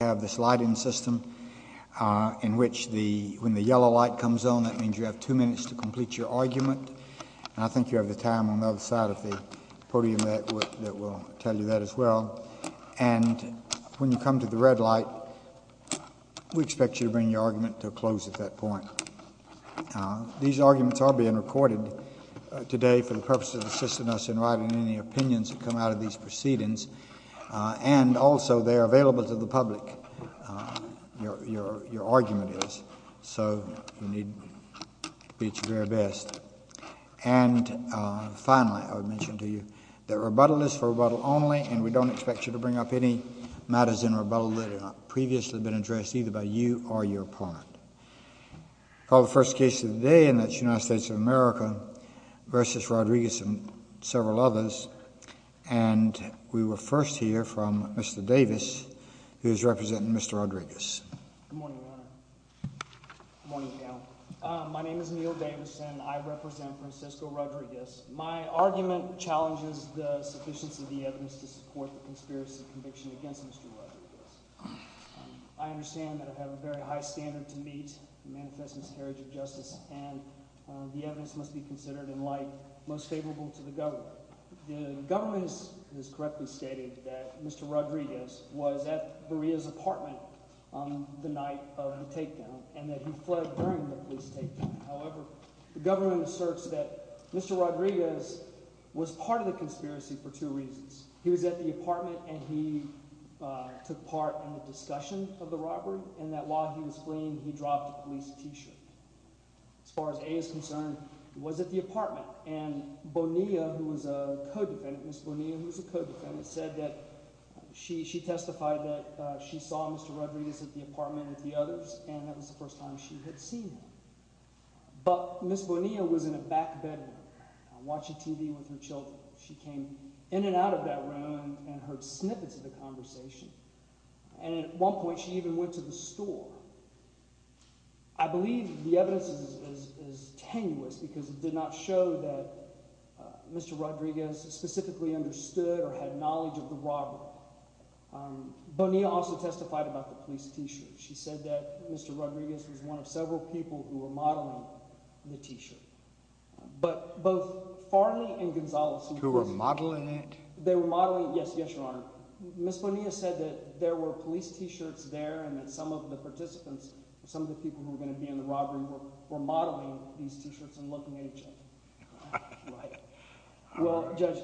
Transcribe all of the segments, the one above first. We have this lighting system in which when the yellow light comes on, that means you have two minutes to complete your argument. And I think you have the time on the other side of the podium that will tell you that as well. And when you come to the red light, we expect you to bring your argument to a close at that point. These arguments are being recorded today for the purpose of assisting us in writing any opinions that come out of these proceedings. And also, they are available to the public, your argument is, so you need to do your very best. And finally, I would mention to you that rebuttal is for rebuttal only, and we don't expect you to bring up any matters in rebuttal that have not previously been addressed, either by you or your opponent. We'll call the first case of the day, and that's United States of America v. Rodriguez and several others. And we will first hear from Mr. Davis, who is representing Mr. Rodriguez. Good morning, Your Honor. Good morning, Your Honor. My name is Neil Davis, and I represent Francisco Rodriguez. My argument challenges the sufficiency of the evidence to support the conspiracy conviction against Mr. Rodriguez. I understand that I have a very high standard to meet in manifest miscarriage of justice, and the evidence must be considered in light most favorable to the government. The government has correctly stated that Mr. Rodriguez was at Maria's apartment the night of the takedown and that he fled during the police takedown. However, the government asserts that Mr. Rodriguez was part of the conspiracy for two reasons. He was at the apartment and he took part in the discussion of the robbery and that while he was fleeing, he dropped a police t-shirt. As far as A is concerned, he was at the apartment, and Bonilla, who was a co-defendant, Ms. Bonilla, who was a co-defendant, said that she testified that she saw Mr. Rodriguez at the apartment with the others, and that was the first time she had seen him. But Ms. Bonilla was in a back bedroom watching TV with her children. She came in and out of that room and heard snippets of the conversation, and at one point she even went to the store. I believe the evidence is tenuous because it did not show that Mr. Rodriguez specifically understood or had knowledge of the robbery. Bonilla also testified about the police t-shirt. She said that Mr. Rodriguez was one of several people who were modeling the t-shirt. But both Farley and Gonzales… Who were modeling it? They were modeling it. Yes, Your Honor. Ms. Bonilla said that there were police t-shirts there and that some of the participants, some of the people who were going to be in the robbery were modeling these t-shirts and looking at each other. Well, Judge,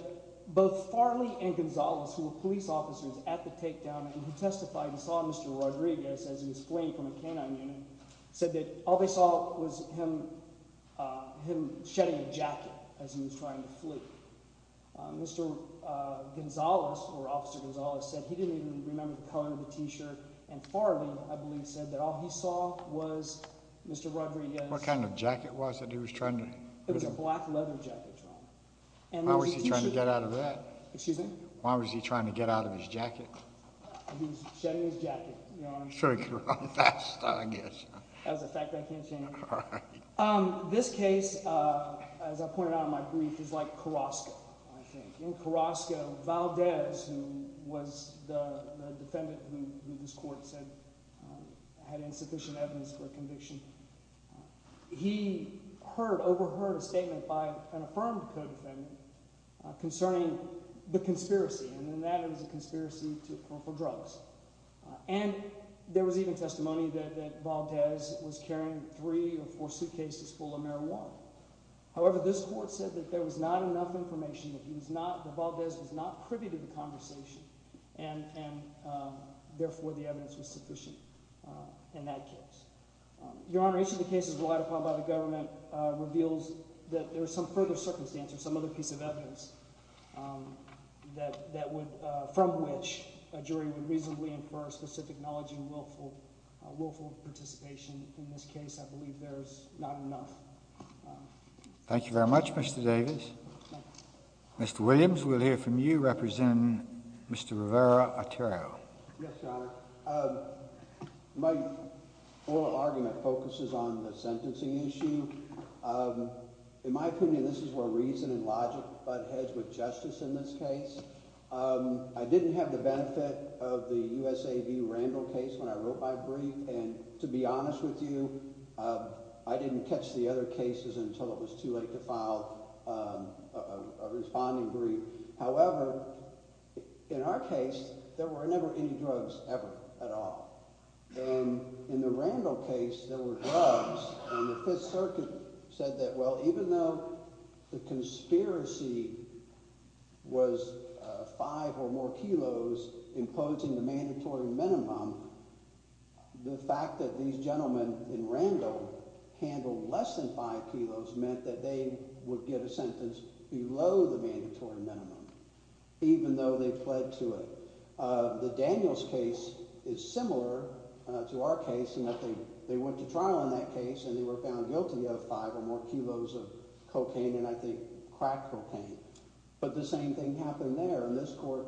both Farley and Gonzales, who were police officers at the takedown and who testified and saw Mr. Rodriguez as he was fleeing from a canine unit, said that all they saw was him shedding a jacket as he was trying to flee. Mr. Gonzales, or Officer Gonzales, said he didn't even remember the color of the t-shirt, and Farley, I believe, said that all he saw was Mr. Rodriguez… What kind of jacket was it he was trying to… It was a black leather jacket, Your Honor. Why was he trying to get out of that? Excuse me? Why was he trying to get out of his jacket? He was shedding his jacket, Your Honor. I'm sure he could have run faster, I guess. That was a fact I can't change. All right. This case, as I pointed out in my brief, is like Carrasco, I think. In Carrasco, Valdez, who was the defendant who this court said had insufficient evidence for a conviction, he heard, overheard a statement by an affirmed co-defendant concerning the conspiracy, and in that it was a conspiracy for drugs. And there was even testimony that Valdez was carrying three or four suitcases full of marijuana. However, this court said that there was not enough information, that Valdez was not privy to the conversation, and therefore the evidence was sufficient in that case. Your Honor, each of the cases relied upon by the government reveals that there is some further circumstance or some other piece of evidence from which a jury would reasonably infer specific knowledge and willful participation. In this case, I believe there is not enough. Thank you very much, Mr. Davis. Mr. Williams, we'll hear from you representing Mr. Rivera-Otero. Yes, Your Honor. My oral argument focuses on the sentencing issue. In my opinion, this is where reason and logic butt heads with justice in this case. I didn't have the benefit of the USAV Randall case when I wrote my brief, and to be honest with you, I didn't catch the other cases until it was too late to file a responding brief. However, in our case, there were never any drugs ever at all, and in the Randall case, there were drugs, and the Fifth Circuit said that, well, even though the conspiracy was five or more kilos imposing the mandatory minimum, the fact that these gentlemen in Randall handled less than five kilos meant that they would get a sentence below the mandatory minimum, even though they fled to it. The Daniels case is similar to our case in that they went to trial in that case and they were found guilty of five or more kilos of cocaine and, I think, crack cocaine. But the same thing happened there, and this court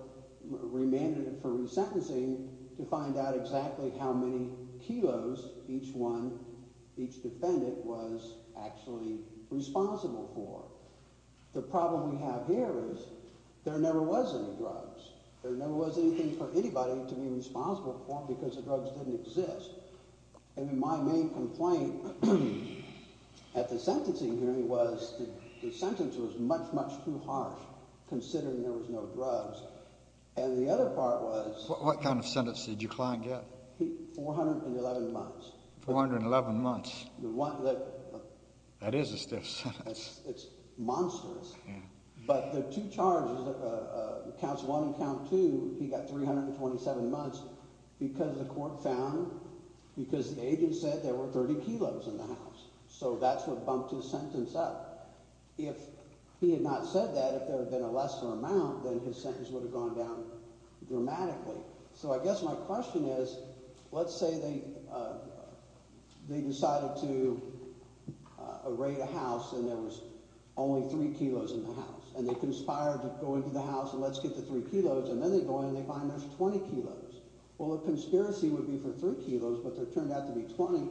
remanded it for resentencing to find out exactly how many kilos each defendant was actually responsible for. The problem we have here is there never was any drugs. There never was anything for anybody to be responsible for because the drugs didn't exist. My main complaint at the sentencing hearing was the sentence was much, much too harsh considering there was no drugs. And the other part was— What kind of sentence did your client get? 411 months. 411 months. That is a stiff sentence. It's monstrous. But the two charges, counts one and count two, he got 327 months because the court found—because the agent said there were 30 kilos in the house. So that's what bumped his sentence up. If he had not said that, if there had been a lesser amount, then his sentence would have gone down dramatically. So I guess my question is let's say they decided to raid a house and there was only three kilos in the house, and they conspired to go into the house and let's get the three kilos, and then they go in and they find there's 20 kilos. Well, a conspiracy would be for three kilos, but there turned out to be 20,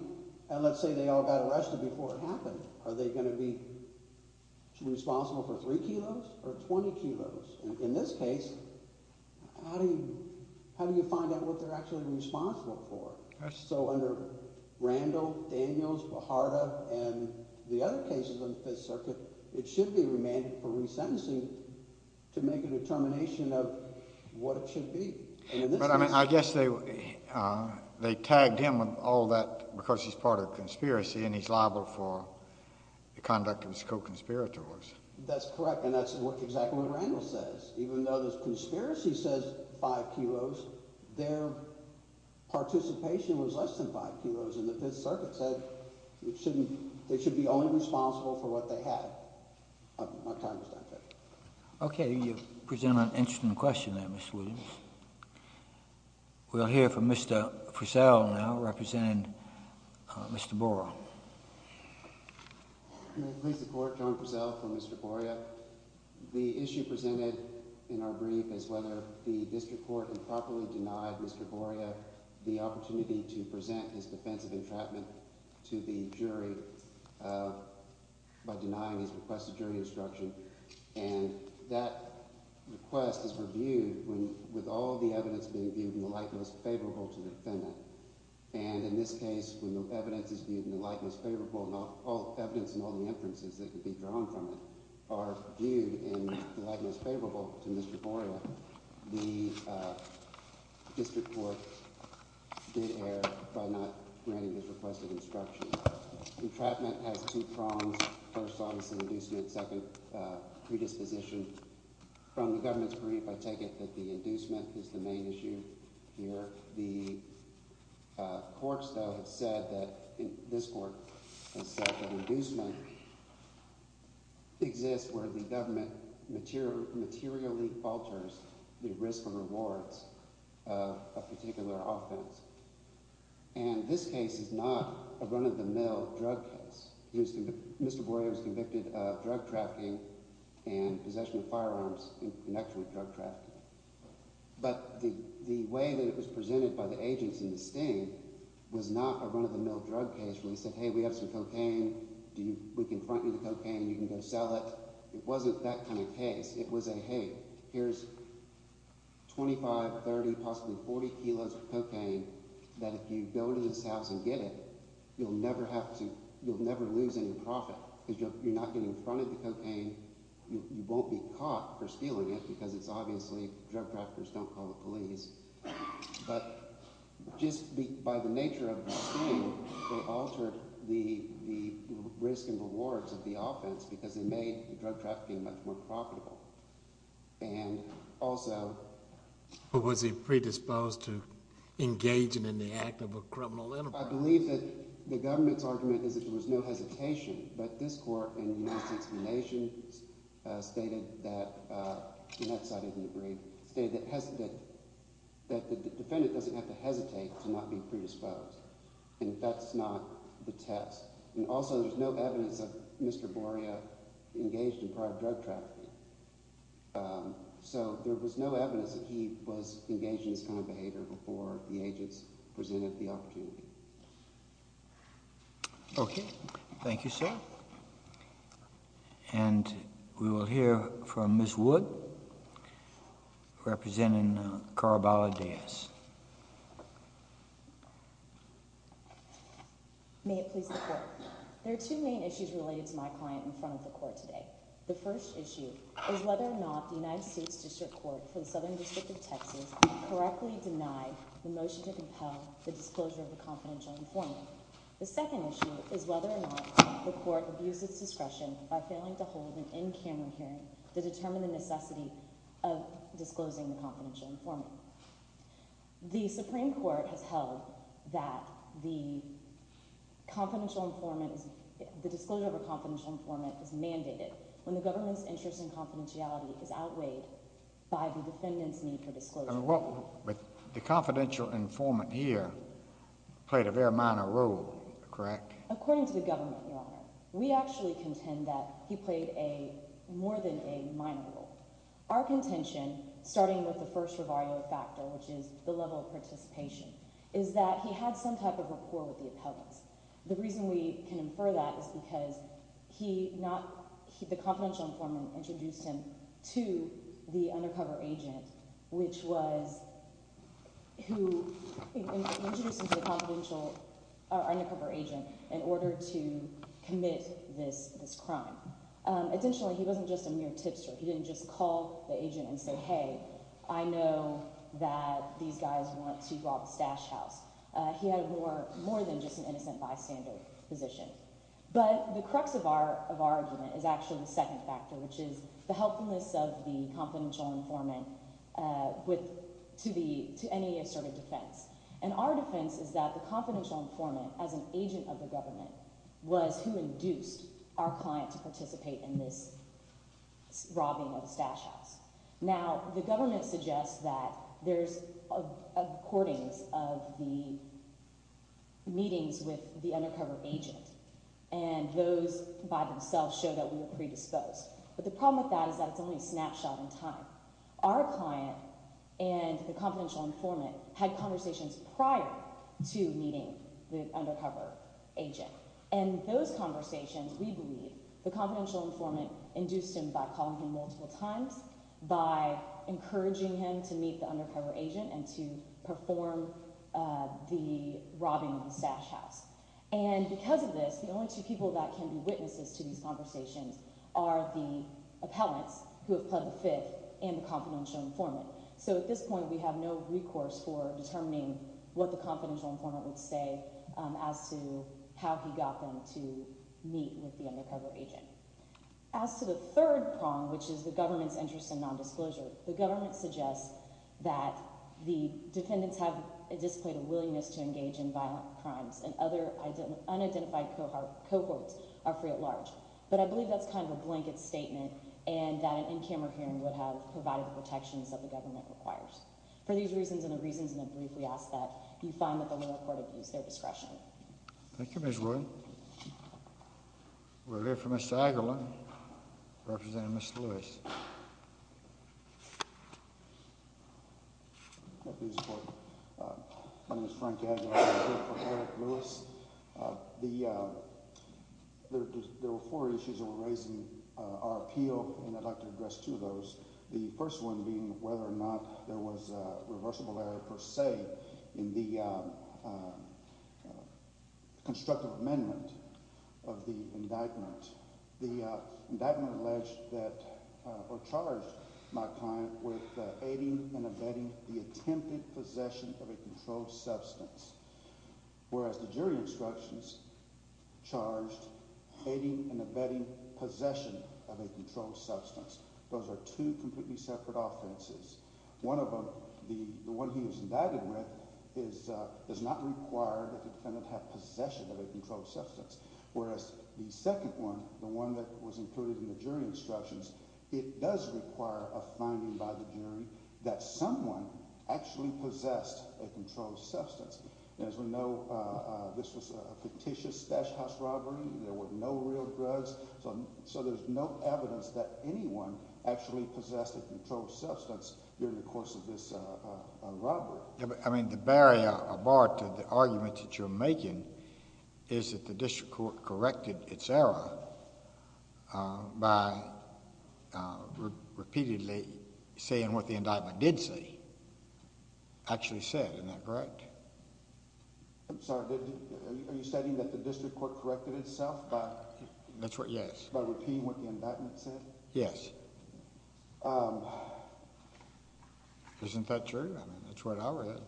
and let's say they all got arrested before it happened. Are they going to be responsible for three kilos or 20 kilos? In this case, how do you find out what they're actually responsible for? So under Randall, Daniels, Beharda, and the other cases on the Fifth Circuit, it should be remanded for resentencing to make a determination of what it should be. But, I mean, I guess they tagged him with all that because he's part of a conspiracy and he's liable for the conduct of his co-conspirators. That's correct, and that's exactly what Randall says. Even though the conspiracy says five kilos, their participation was less than five kilos, and the Fifth Circuit said they should be only responsible for what they had. My time is up, Judge. Okay, you present an interesting question there, Mr. Williams. We'll hear from Mr. Purcell now, representing Mr. Borough. May it please the Court, John Purcell for Mr. Borough. The issue presented in our brief is whether the district court improperly denied Mr. Borough the opportunity to present his defense of entrapment to the jury by denying his request of jury instruction. And that request is reviewed with all the evidence being viewed in the light most favorable to the defendant. And in this case, when the evidence is viewed in the light most favorable, and all the evidence and all the inferences that could be drawn from it are viewed in the light most favorable to Mr. Borough, the district court did err by not granting his request of instruction. Entrapment has two prongs. First, obviously, inducement. Second, predisposition. From the government's brief, I take it that the inducement is the main issue here. The courts, though, have said that – this court has said that inducement exists where the government materially alters the risk or rewards of a particular offense. And this case is not a run-of-the-mill drug case. Mr. Borough was convicted of drug trafficking and possession of firearms in connection with drug trafficking. But the way that it was presented by the agents in the sting was not a run-of-the-mill drug case where we said, hey, we have some cocaine. We can front you the cocaine. You can go sell it. It wasn't that kind of case. It was a, hey, here's 25, 30, possibly 40 kilos of cocaine that if you go to this house and get it, you'll never have to – you'll never lose any profit. You're not getting fronted the cocaine. You won't be caught for stealing it because it's obviously – drug traffickers don't call the police. But just by the nature of the sting, they altered the risk and rewards of the offense because they made the drug trafficking much more profitable. And also – But was he predisposed to engaging in the act of a criminal enterprise? I believe that the government's argument is that there was no hesitation, but this court in United States of the Nation stated that – and that side didn't agree – stated that the defendant doesn't have to hesitate to not be predisposed, and that's not the test. And also there's no evidence of Mr. Borough engaged in prior drug trafficking. So there was no evidence that he was engaged in this kind of behavior before the agents presented the opportunity. Okay. Thank you, sir. And we will hear from Ms. Wood, representing Carl Bala-Diaz. May it please the court. There are two main issues related to my client in front of the court today. The first issue is whether or not the United States District Court for the Southern District of Texas correctly denied the motion to compel the disclosure of a confidential informant. The second issue is whether or not the court abused its discretion by failing to hold an in-camera hearing to determine the necessity of disclosing the confidential informant. The Supreme Court has held that the confidential informant – the disclosure of a confidential informant is mandated when the government's interest in confidentiality is outweighed by the defendant's need for disclosure. But the confidential informant here played a very minor role, correct? According to the government, Your Honor, we actually contend that he played a – more than a minor role. Our contention, starting with the first rebarrio factor, which is the level of participation, is that he had some type of rapport with the appellants. The reason we can infer that is because he not – the confidential informant introduced him to the undercover agent, which was – who introduced him to the confidential – our undercover agent in order to commit this crime. Essentially, he wasn't just a mere tipster. He didn't just call the agent and say, hey, I know that these guys want to rob a stash house. He had more than just an innocent bystander position. But the crux of our argument is actually the second factor, which is the helpfulness of the confidential informant with – to the – to any assertive defense. And our defense is that the confidential informant, as an agent of the government, was who induced our client to participate in this robbing of the stash house. Now, the government suggests that there's recordings of the meetings with the undercover agent, and those by themselves show that we were predisposed. But the problem with that is that it's only a snapshot in time. Our client and the confidential informant had conversations prior to meeting the undercover agent. And those conversations, we believe, the confidential informant induced him by calling him multiple times, by encouraging him to meet the undercover agent and to perform the robbing of the stash house. And because of this, the only two people that can be witnesses to these conversations are the appellants, who have pled the fifth, and the confidential informant. So at this point, we have no recourse for determining what the confidential informant would say as to how he got them to meet with the undercover agent. As to the third prong, which is the government's interest in nondisclosure, the government suggests that the defendants have a display of willingness to engage in violent crimes, and other unidentified cohorts are free at large. But I believe that's kind of a blanket statement and that an in-camera hearing would have provided the protections that the government requires. For these reasons and the reasons in the brief, we ask that you find that the lower court abuse their discretion. Thank you, Ms. Wood. We'll hear from Mr. Aguilar, representing Mr. Lewis. My name is Frank Aguilar. I'm here for Eric Lewis. There were four issues that were raising our appeal, and I'd like to address two of those. The first one being whether or not there was reversible error per se in the constructive amendment of the indictment. The indictment alleged that – or charged my client with aiding and abetting the attempted possession of a controlled substance. Whereas the jury instructions charged aiding and abetting possession of a controlled substance. Those are two completely separate offenses. One of them, the one he was indicted with, does not require that the defendant have possession of a controlled substance. Whereas the second one, the one that was included in the jury instructions, it does require a finding by the jury that someone actually possessed a controlled substance. And as we know, this was a fictitious stash house robbery. There were no real drugs, so there's no evidence that anyone actually possessed a controlled substance during the course of this robbery. I mean, the barrier or bar to the argument that you're making is that the district court corrected its error by repeatedly saying what the indictment did say, actually said. Isn't that correct? I'm sorry. Are you stating that the district court corrected itself by repeating what the indictment said? Yes. Isn't that true? I mean, that's what I read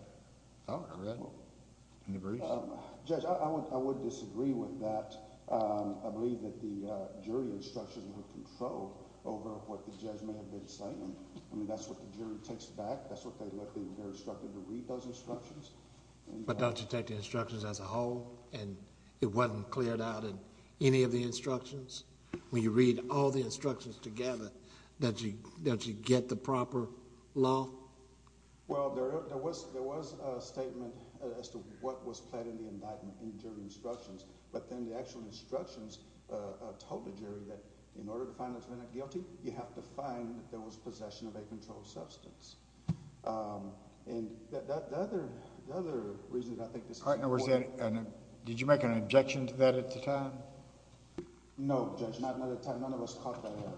in the briefs. Judge, I would disagree with that. I believe that the jury instructions were controlled over what the judge may have been saying. I mean, that's what the jury takes back. That's what they look at when they're instructed to read those instructions. But don't you take the instructions as a whole, and it wasn't cleared out in any of the instructions? When you read all the instructions together, don't you get the proper law? Well, there was a statement as to what was pled in the indictment in the jury instructions. But then the actual instructions told the jury that in order to find the defendant guilty, you have to find that there was possession of a controlled substance. And the other reason I think this is important— Did you make an objection to that at the time? No, Judge, not at the time. None of us caught that error.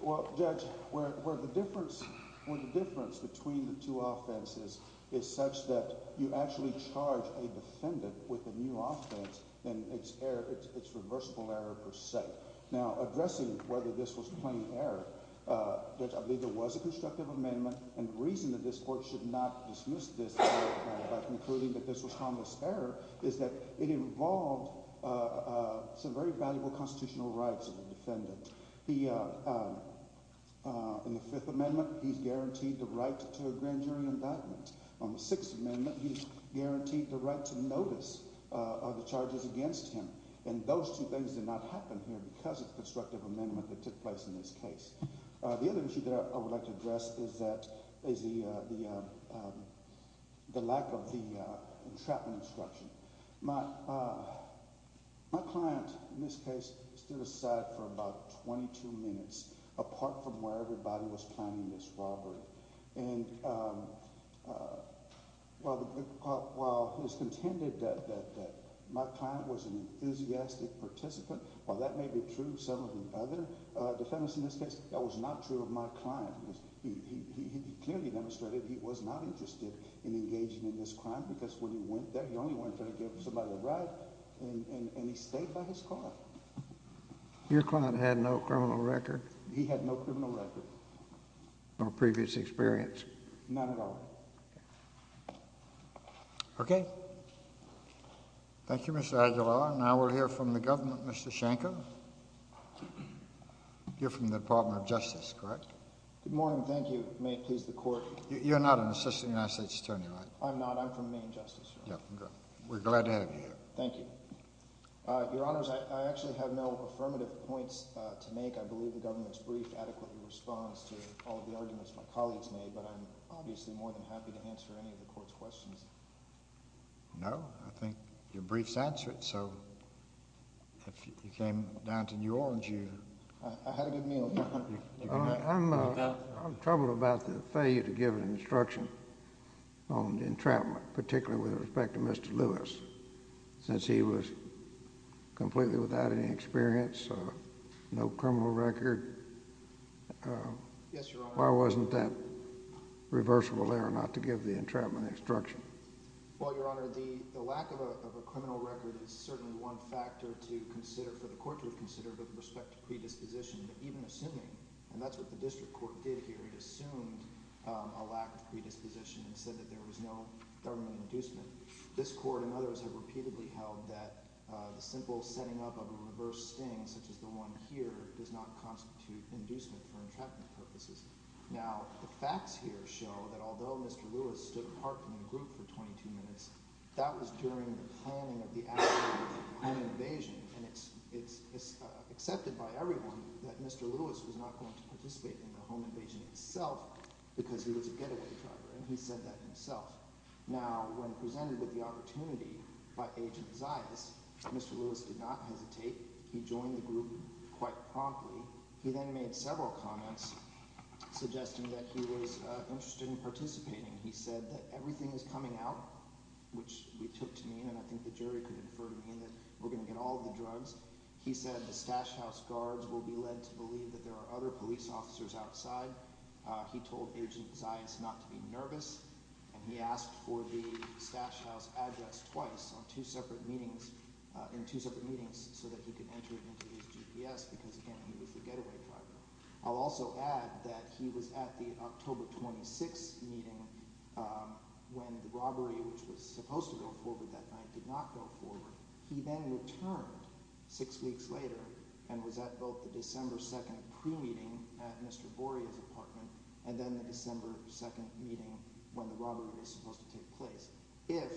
Well, Judge, where the difference between the two offenses is such that you actually charge a defendant with a new offense, then it's irreversible error per se. Now, addressing whether this was plain error, Judge, I believe there was a constructive amendment. And the reason that this court should not dismiss this error by concluding that this was harmless error is that it involved some very valuable constitutional rights of the defendant. In the Fifth Amendment, he's guaranteed the right to a grand jury indictment. On the Sixth Amendment, he's guaranteed the right to notice the charges against him. And those two things did not happen here because of the constructive amendment that took place in this case. The other issue that I would like to address is the lack of the entrapment instruction. My client in this case stood aside for about 22 minutes apart from where everybody was planning this robbery. And while it was contended that my client was an enthusiastic participant, while that may be true of some of the other defendants in this case, that was not true of my client. Because he clearly demonstrated he was not interested in engaging in this crime. Because when he went there, he only went there to give somebody a ride. And he stayed by his car. Your client had no criminal record? He had no criminal record. No previous experience? Not at all. Okay. Thank you, Mr. Aguilar. Now we'll hear from the government, Mr. Shanko. You're from the Department of Justice, correct? Good morning. Thank you. May it please the Court. You're not an Assistant United States Attorney, right? I'm not. I'm from Maine Justice, Your Honor. We're glad to have you here. Thank you. Your Honors, I actually have no affirmative points to make. I believe the government's brief adequately responds to all of the arguments my colleagues made. But I'm obviously more than happy to answer any of the Court's questions. No. So if you came down to New Orleans, you— I had a good meal, Your Honor. I'm troubled about the failure to give an instruction on the entrapment, particularly with respect to Mr. Lewis, since he was completely without any experience, no criminal record. Yes, Your Honor. Why wasn't that reversible there, not to give the entrapment instruction? Well, Your Honor, the lack of a criminal record is certainly one factor to consider, for the Court to have considered, with respect to predisposition. But even assuming—and that's what the District Court did here. It assumed a lack of predisposition and said that there was no government inducement. This Court and others have repeatedly held that the simple setting up of a reverse sting, such as the one here, does not constitute inducement for entrapment purposes. Now, the facts here show that although Mr. Lewis stood apart from the group for 22 minutes, that was during the planning of the act of un-invasion. And it's accepted by everyone that Mr. Lewis was not going to participate in the home invasion itself because he was a getaway driver, and he said that himself. Now, when presented with the opportunity by Agent Zayas, Mr. Lewis did not hesitate. He joined the group quite promptly. He then made several comments suggesting that he was interested in participating. He said that everything is coming out, which we took to mean, and I think the jury could infer to mean that we're going to get all of the drugs. He said the stash house guards will be led to believe that there are other police officers outside. He told Agent Zayas not to be nervous. And he asked for the stash house address twice in two separate meetings so that he could enter it into his GPS because, again, he was the getaway driver. I'll also add that he was at the October 26th meeting when the robbery, which was supposed to go forward that night, did not go forward. He then returned six weeks later and was at both the December 2nd pre-meeting at Mr. Boria's apartment and then the December 2nd meeting when the robbery was supposed to take place. If,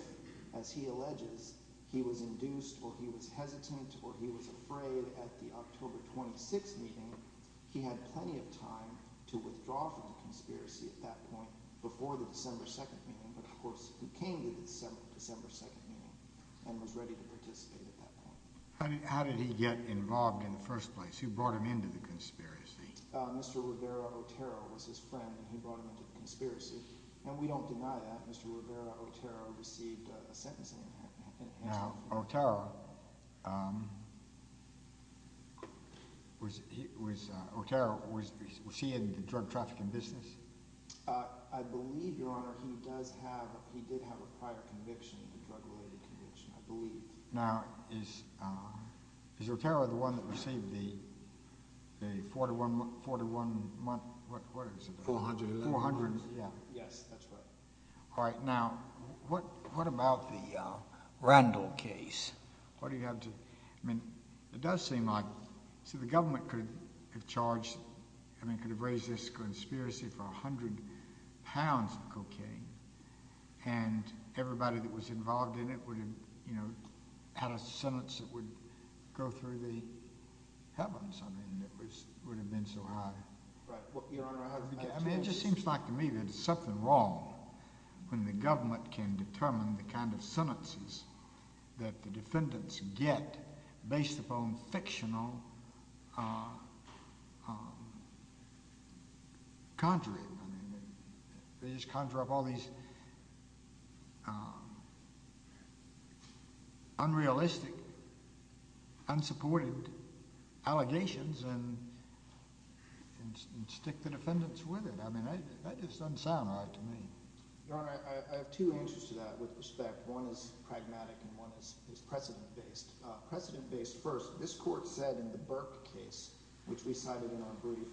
as he alleges, he was induced or he was hesitant or he was afraid at the October 26th meeting, he had plenty of time to withdraw from the conspiracy at that point before the December 2nd meeting. But, of course, he came to the December 2nd meeting and was ready to participate at that point. How did he get involved in the first place? Who brought him into the conspiracy? Mr. Rivera-Otero was his friend, and he brought him into the conspiracy. And we don't deny that. Mr. Rivera-Otero received a sentence in Manhattan. Now, Otero, was he in the drug trafficking business? I believe, Your Honor, he did have a prior conviction, a drug-related conviction, I believe. Now, is Otero the one that received the $400,000? Yes, that's right. All right. Now, what about the Randall case? What do you have to—I mean, it does seem like—see, the government could have charged— I mean, could have raised this conspiracy for 100 pounds of cocaine, and everybody that was involved in it would have, you know, had a sentence that would go through the heavens. I mean, it would have been so high. Right. I mean, it just seems like to me that there's something wrong when the government can determine the kind of sentences that the defendants get based upon fictional conjuring. They just conjure up all these unrealistic, unsupported allegations and stick the defendants with it. I mean, that just doesn't sound right to me. Your Honor, I have two answers to that with respect. One is pragmatic and one is precedent-based. Precedent-based first, this court said in the Burke case, which we cited in our brief,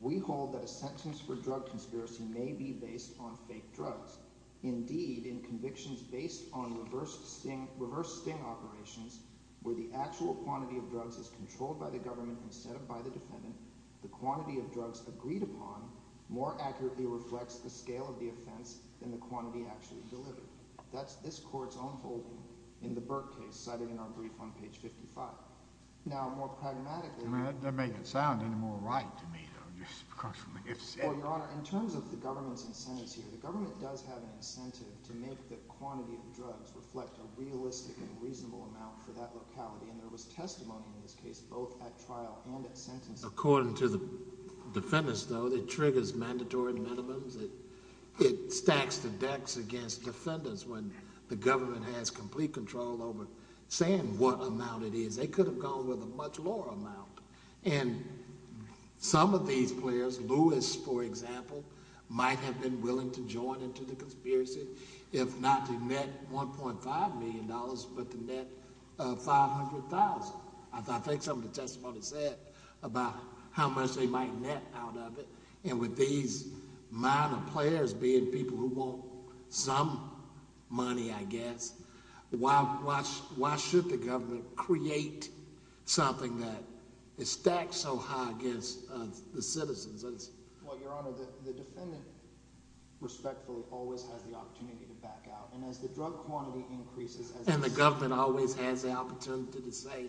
we hold that a sentence for drug conspiracy may be based on fake drugs. Indeed, in convictions based on reverse sting operations, where the actual quantity of drugs is controlled by the government instead of by the defendant, the quantity of drugs agreed upon more accurately reflects the scale of the offense than the quantity actually delivered. That's this court's own holding in the Burke case cited in our brief on page 55. Now, more pragmatically— I mean, that doesn't make it sound any more right to me, though. Well, Your Honor, in terms of the government's incentives here, the government does have an incentive to make the quantity of drugs reflect a realistic and reasonable amount for that locality, and there was testimony in this case both at trial and at sentence. According to the defendants, though, it triggers mandatory minimums. It stacks the decks against defendants when the government has complete control over saying what amount it is. They could have gone with a much lower amount. And some of these players, Lewis, for example, might have been willing to join into the conspiracy if not to net $1.5 million but to net $500,000. I think some of the testimony said about how much they might net out of it. And with these minor players being people who want some money, I guess, why should the government create something that is stacked so high against the citizens? Well, Your Honor, the defendant, respectfully, always has the opportunity to back out. And as the drug quantity increases— And the government always has the opportunity to say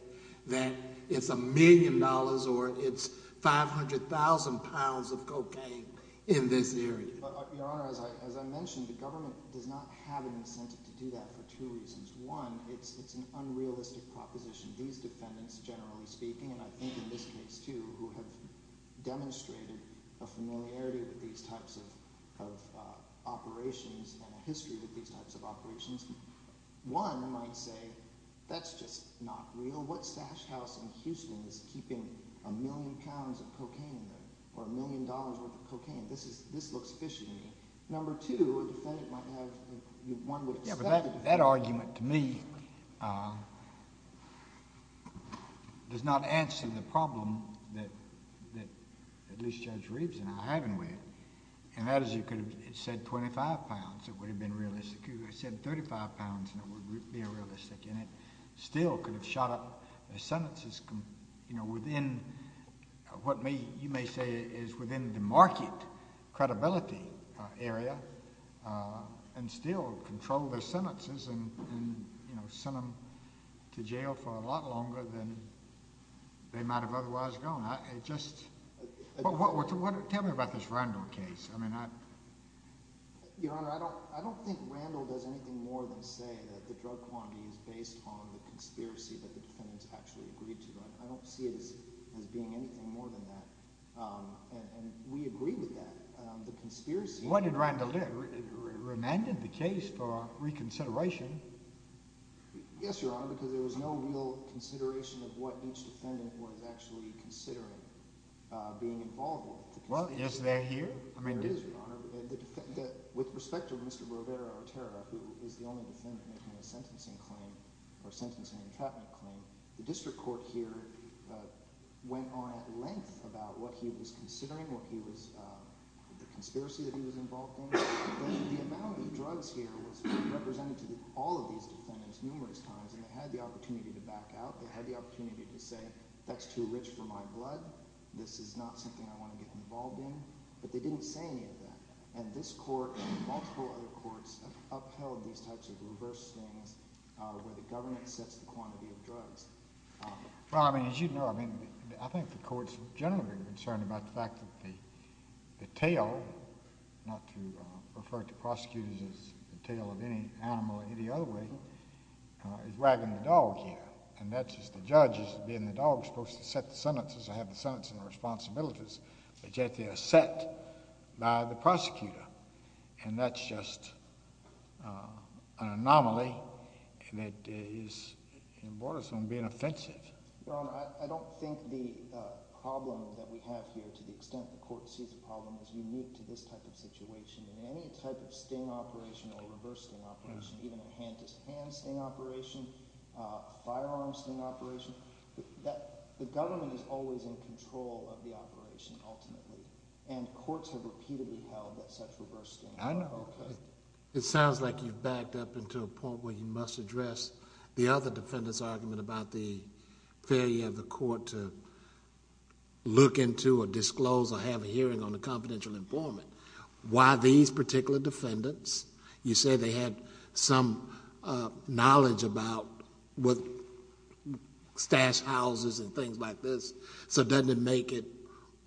that it's $1 million or it's 500,000 pounds of cocaine in this area. But, Your Honor, as I mentioned, the government does not have an incentive to do that for two reasons. One, it's an unrealistic proposition. These defendants, generally speaking, and I think in this case too, who have demonstrated a familiarity with these types of operations and a history with these types of operations. One might say, that's just not real. What stash house in Houston is keeping a million pounds of cocaine in there or a million dollars' worth of cocaine? This looks fishy to me. Number two, a defendant might have—one would expect— that argument, to me, does not answer the problem that at least Judge Reeves and I are having with it. And that is you could have said 25 pounds. It would have been realistic. You could have said 35 pounds and it would be realistic. And it still could have shot up sentences within what you may say is within the market credibility area and still control their sentences and, you know, send them to jail for a lot longer than they might have otherwise gone. It just—tell me about this Randall case. I mean, I— Your Honor, I don't think Randall does anything more than say that the drug quantity is based on the conspiracy that the defendants actually agreed to. I don't see it as being anything more than that. And we agree with that. What did Randall do? Remanded the case for reconsideration. Yes, Your Honor, because there was no real consideration of what each defendant was actually considering being involved with. Well, is there here? There is, Your Honor. With respect to Mr. Roberto Otero, who is the only defendant making a sentencing claim or sentencing entrapment claim, the district court here went on at length about what he was considering, what he was—the conspiracy that he was involved in. The amount of drugs here was represented to all of these defendants numerous times, and they had the opportunity to back out. They had the opportunity to say, that's too rich for my blood. This is not something I want to get involved in. But they didn't say any of that. And this court and multiple other courts have upheld these types of reverse things where the government sets the quantity of drugs. Well, I mean, as you know, I think the courts are generally concerned about the fact that the tail—not to refer to prosecutors as the tail of any animal in any other way—is wagging the dog here. And that's just—the judge is being the dog, supposed to set the sentences or have the sentencing responsibilities. But yet they are set by the prosecutor. And that's just an anomaly, and it is—it borders on being offensive. Your Honor, I don't think the problem that we have here to the extent the court sees the problem is unique to this type of situation. In any type of sting operation or reverse sting operation, even a hand-to-hand sting operation, a firearm sting operation, the government is always in control of the operation ultimately. And courts have repeatedly held that such reverse sting— I know. Okay. It sounds like you've backed up into a point where you must address the other defendant's argument about the failure of the court to look into or disclose or have a hearing on the confidential informant. Why these particular defendants—you say they had some knowledge about stash houses and things like this. So doesn't it make it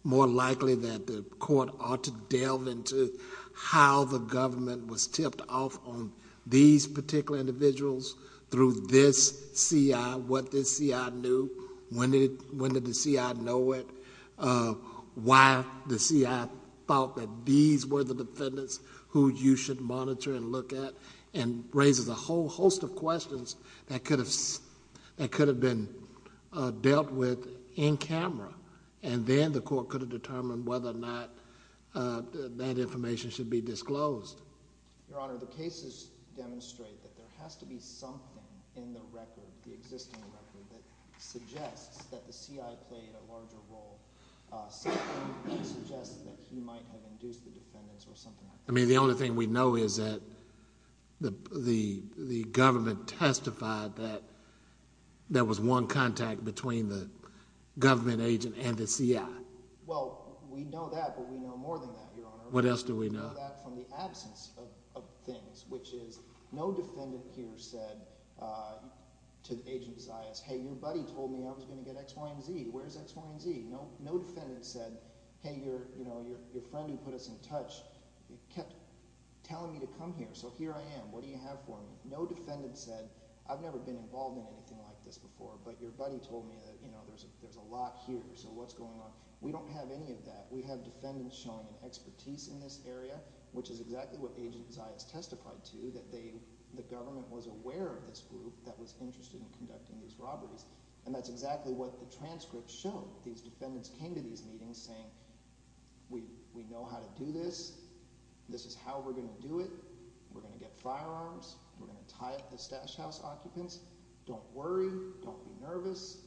more likely that the court ought to delve into how the government was tipped off on these particular individuals through this CI? What this CI knew? When did the CI know it? Why the CI thought that these were the defendants who you should monitor and look at? And raises a whole host of questions that could have been dealt with in camera, and then the court could have determined whether or not that information should be disclosed. Your Honor, the cases demonstrate that there has to be something in the record, the existing record, that suggests that the CI played a larger role. Something suggests that he might have induced the defendants or something like that. I mean, the only thing we know is that the government testified that there was one contact between the government agent and the CI. Well, we know that, but we know more than that, Your Honor. What else do we know? We know that from the absence of things, which is no defendant here said to Agent Zayas, hey, your buddy told me I was going to get X, Y, and Z. Where's X, Y, and Z? No defendant said, hey, your friend who put us in touch kept telling me to come here, so here I am. What do you have for me? No defendant said, I've never been involved in anything like this before, but your buddy told me that there's a lot here, so what's going on? We don't have any of that. We have defendants showing an expertise in this area, which is exactly what Agent Zayas testified to, that the government was aware of this group that was interested in conducting these robberies, and that's exactly what the transcripts show. These defendants came to these meetings saying we know how to do this. This is how we're going to do it. We're going to get firearms. We're going to tie up the stash house occupants. Don't worry. Don't be nervous.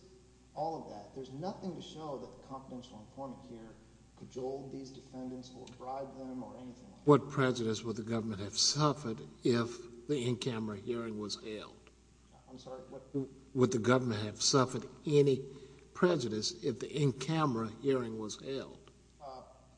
All of that. There's nothing to show that the confidential informant here cajoled these defendants or bribed them or anything like that. What prejudice would the government have suffered if the in-camera hearing was ailed? I'm sorry? Would the government have suffered any prejudice if the in-camera hearing was ailed?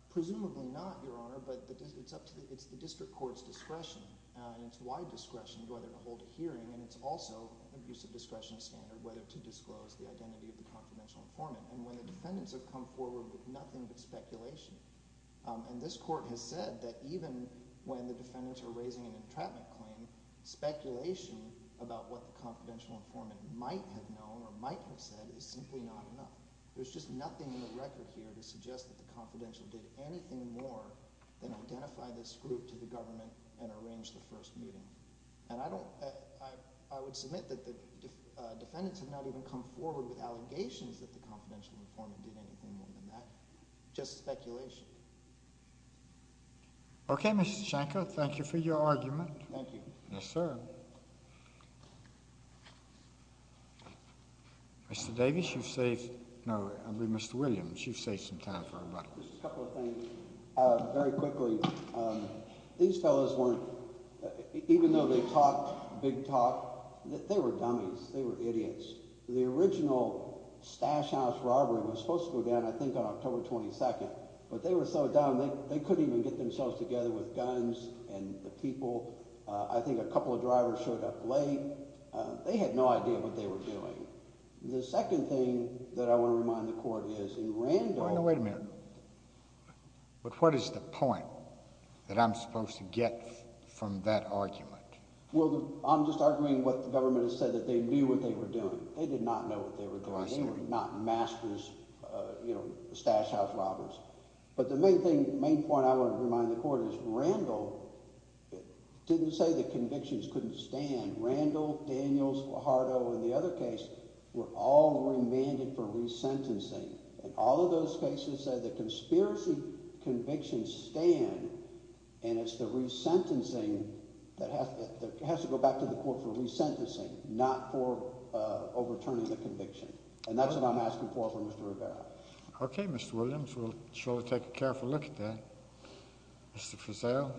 Presumably not, Your Honor, but it's up to the district court's discretion, and it's wide discretion whether to hold a hearing, and it's also an abuse of discretion standard whether to disclose the identity of the confidential informant. And when the defendants have come forward with nothing but speculation, and this court has said that even when the defendants are raising an entrapment claim, speculation about what the confidential informant might have known or might have said is simply not enough. There's just nothing in the record here to suggest that the confidential did anything more than identify this group to the government and arrange the first meeting. And I would submit that the defendants have not even come forward with allegations that the confidential informant did anything more than that. Just speculation. Okay, Mr. Shanko, thank you for your argument. Thank you. Yes, sir. Mr. Davis, you've saved—no, I mean Mr. Williams, you've saved some time for rebuttal. Just a couple of things. Very quickly, these fellows weren't—even though they talked big talk, they were dummies. They were idiots. The original Stash House robbery was supposed to go down I think on October 22nd, but they were so dumb they couldn't even get themselves together with guns and the people. I think a couple of drivers showed up late. They had no idea what they were doing. The second thing that I want to remind the court is in Randolph— what is the point that I'm supposed to get from that argument? Well, I'm just arguing what the government has said, that they knew what they were doing. They did not know what they were doing. They were not masters, you know, Stash House robbers. But the main point I want to remind the court is Randolph didn't say the convictions couldn't stand. Randolph, Daniels, Guajardo, and the other case were all remanded for resentencing. And all of those cases said the conspiracy convictions stand, and it's the resentencing that has to go back to the court for resentencing, not for overturning the conviction. And that's what I'm asking for from Mr. Rivera. Okay, Mr. Williams, we'll surely take a careful look at that. Mr. Fazio?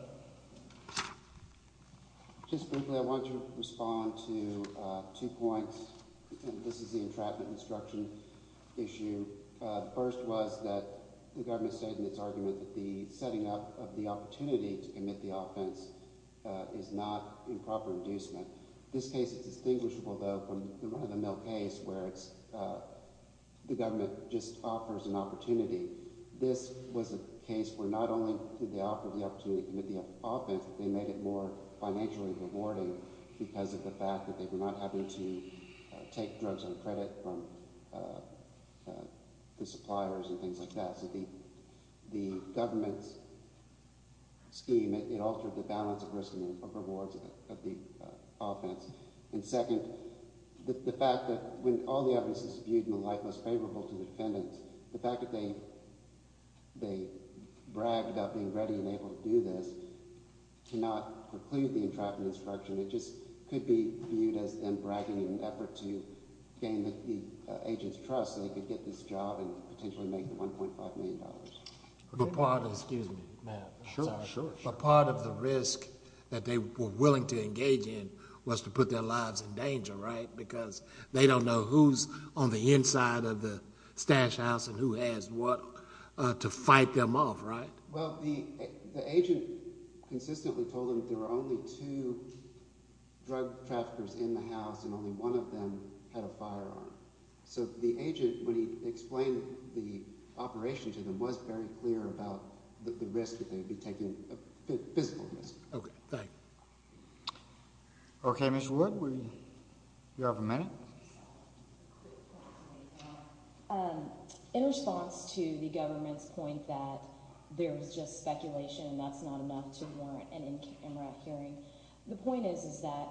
Just briefly, I want to respond to two points. This is the entrapment instruction issue. First was that the government stated in its argument that the setting up of the opportunity to commit the offense is not improper inducement. This case is distinguishable, though, from the run-of-the-mill case where it's the government just offers an opportunity. This was a case where not only did they offer the opportunity to commit the offense, they made it more financially rewarding because of the fact that they were not having to take drugs on credit from the suppliers and things like that. So the government's scheme, it altered the balance of risk and rewards of the offense. And second, the fact that when all the evidence is viewed in the light most favorable to the defendants, the fact that they bragged about being ready and able to do this cannot preclude the entrapment instruction. It just could be viewed as them bragging in an effort to gain the agent's trust so they could get this job and potentially make the $1.5 million. But part of the risk that they were willing to engage in was to put their lives in danger, right? Because they don't know who's on the inside of the stash house and who has what to fight them off, right? Well, the agent consistently told them there were only two drug traffickers in the house and only one of them had a firearm. So the agent, when he explained the operation to them, was very clear about the risk that they would be taking, the physical risk. Okay, thank you. Okay, Ms. Wood, you have a minute. In response to the government's point that there is just speculation and that's not enough to warrant an MRAC hearing, the point is that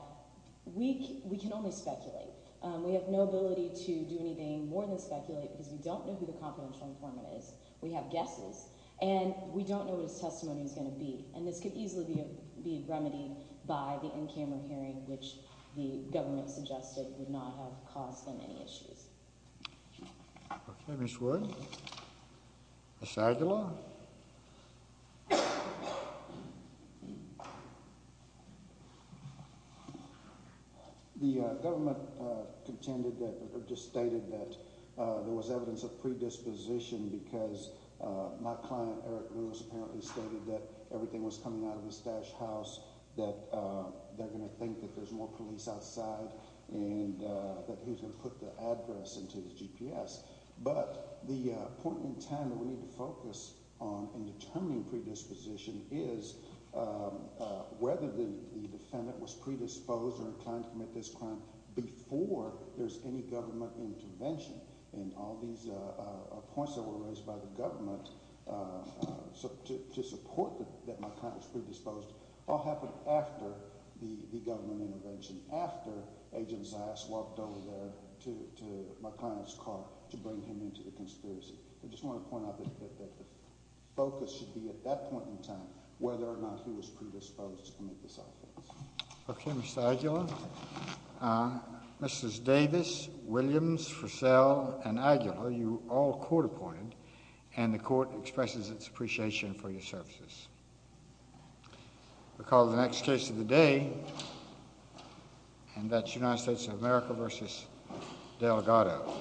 we can only speculate. We have no ability to do anything more than speculate because we don't know who the confidential informant is. We have guesses. And we don't know what his testimony is going to be. And this could easily be remedied by the in-camera hearing, which the government suggested would not have caused them any issues. Okay, Ms. Wood. Mr. Aguilar. The government contended or just stated that there was evidence of predisposition because my client, Eric Lewis, apparently stated that everything was coming out of the stash house, that they're going to think that there's more police outside, and that he was going to put the address into his GPS. But the point in time that we need to focus on in determining predisposition is whether the defendant was predisposed or inclined to commit this crime before there's any government intervention. And all these points that were raised by the government to support that my client was predisposed all happened after the government intervention, after Agent Zias walked over there to my client's car to bring him into the conspiracy. I just want to point out that the focus should be at that point in time whether or not he was predisposed to commit this offense. Okay, Mr. Aguilar. Mrs. Davis, Williams, Frisell, and Aguilar, you were all court appointed, and the court expresses its appreciation for your services. We'll call the next case of the day, and that's United States of America v. Delgado.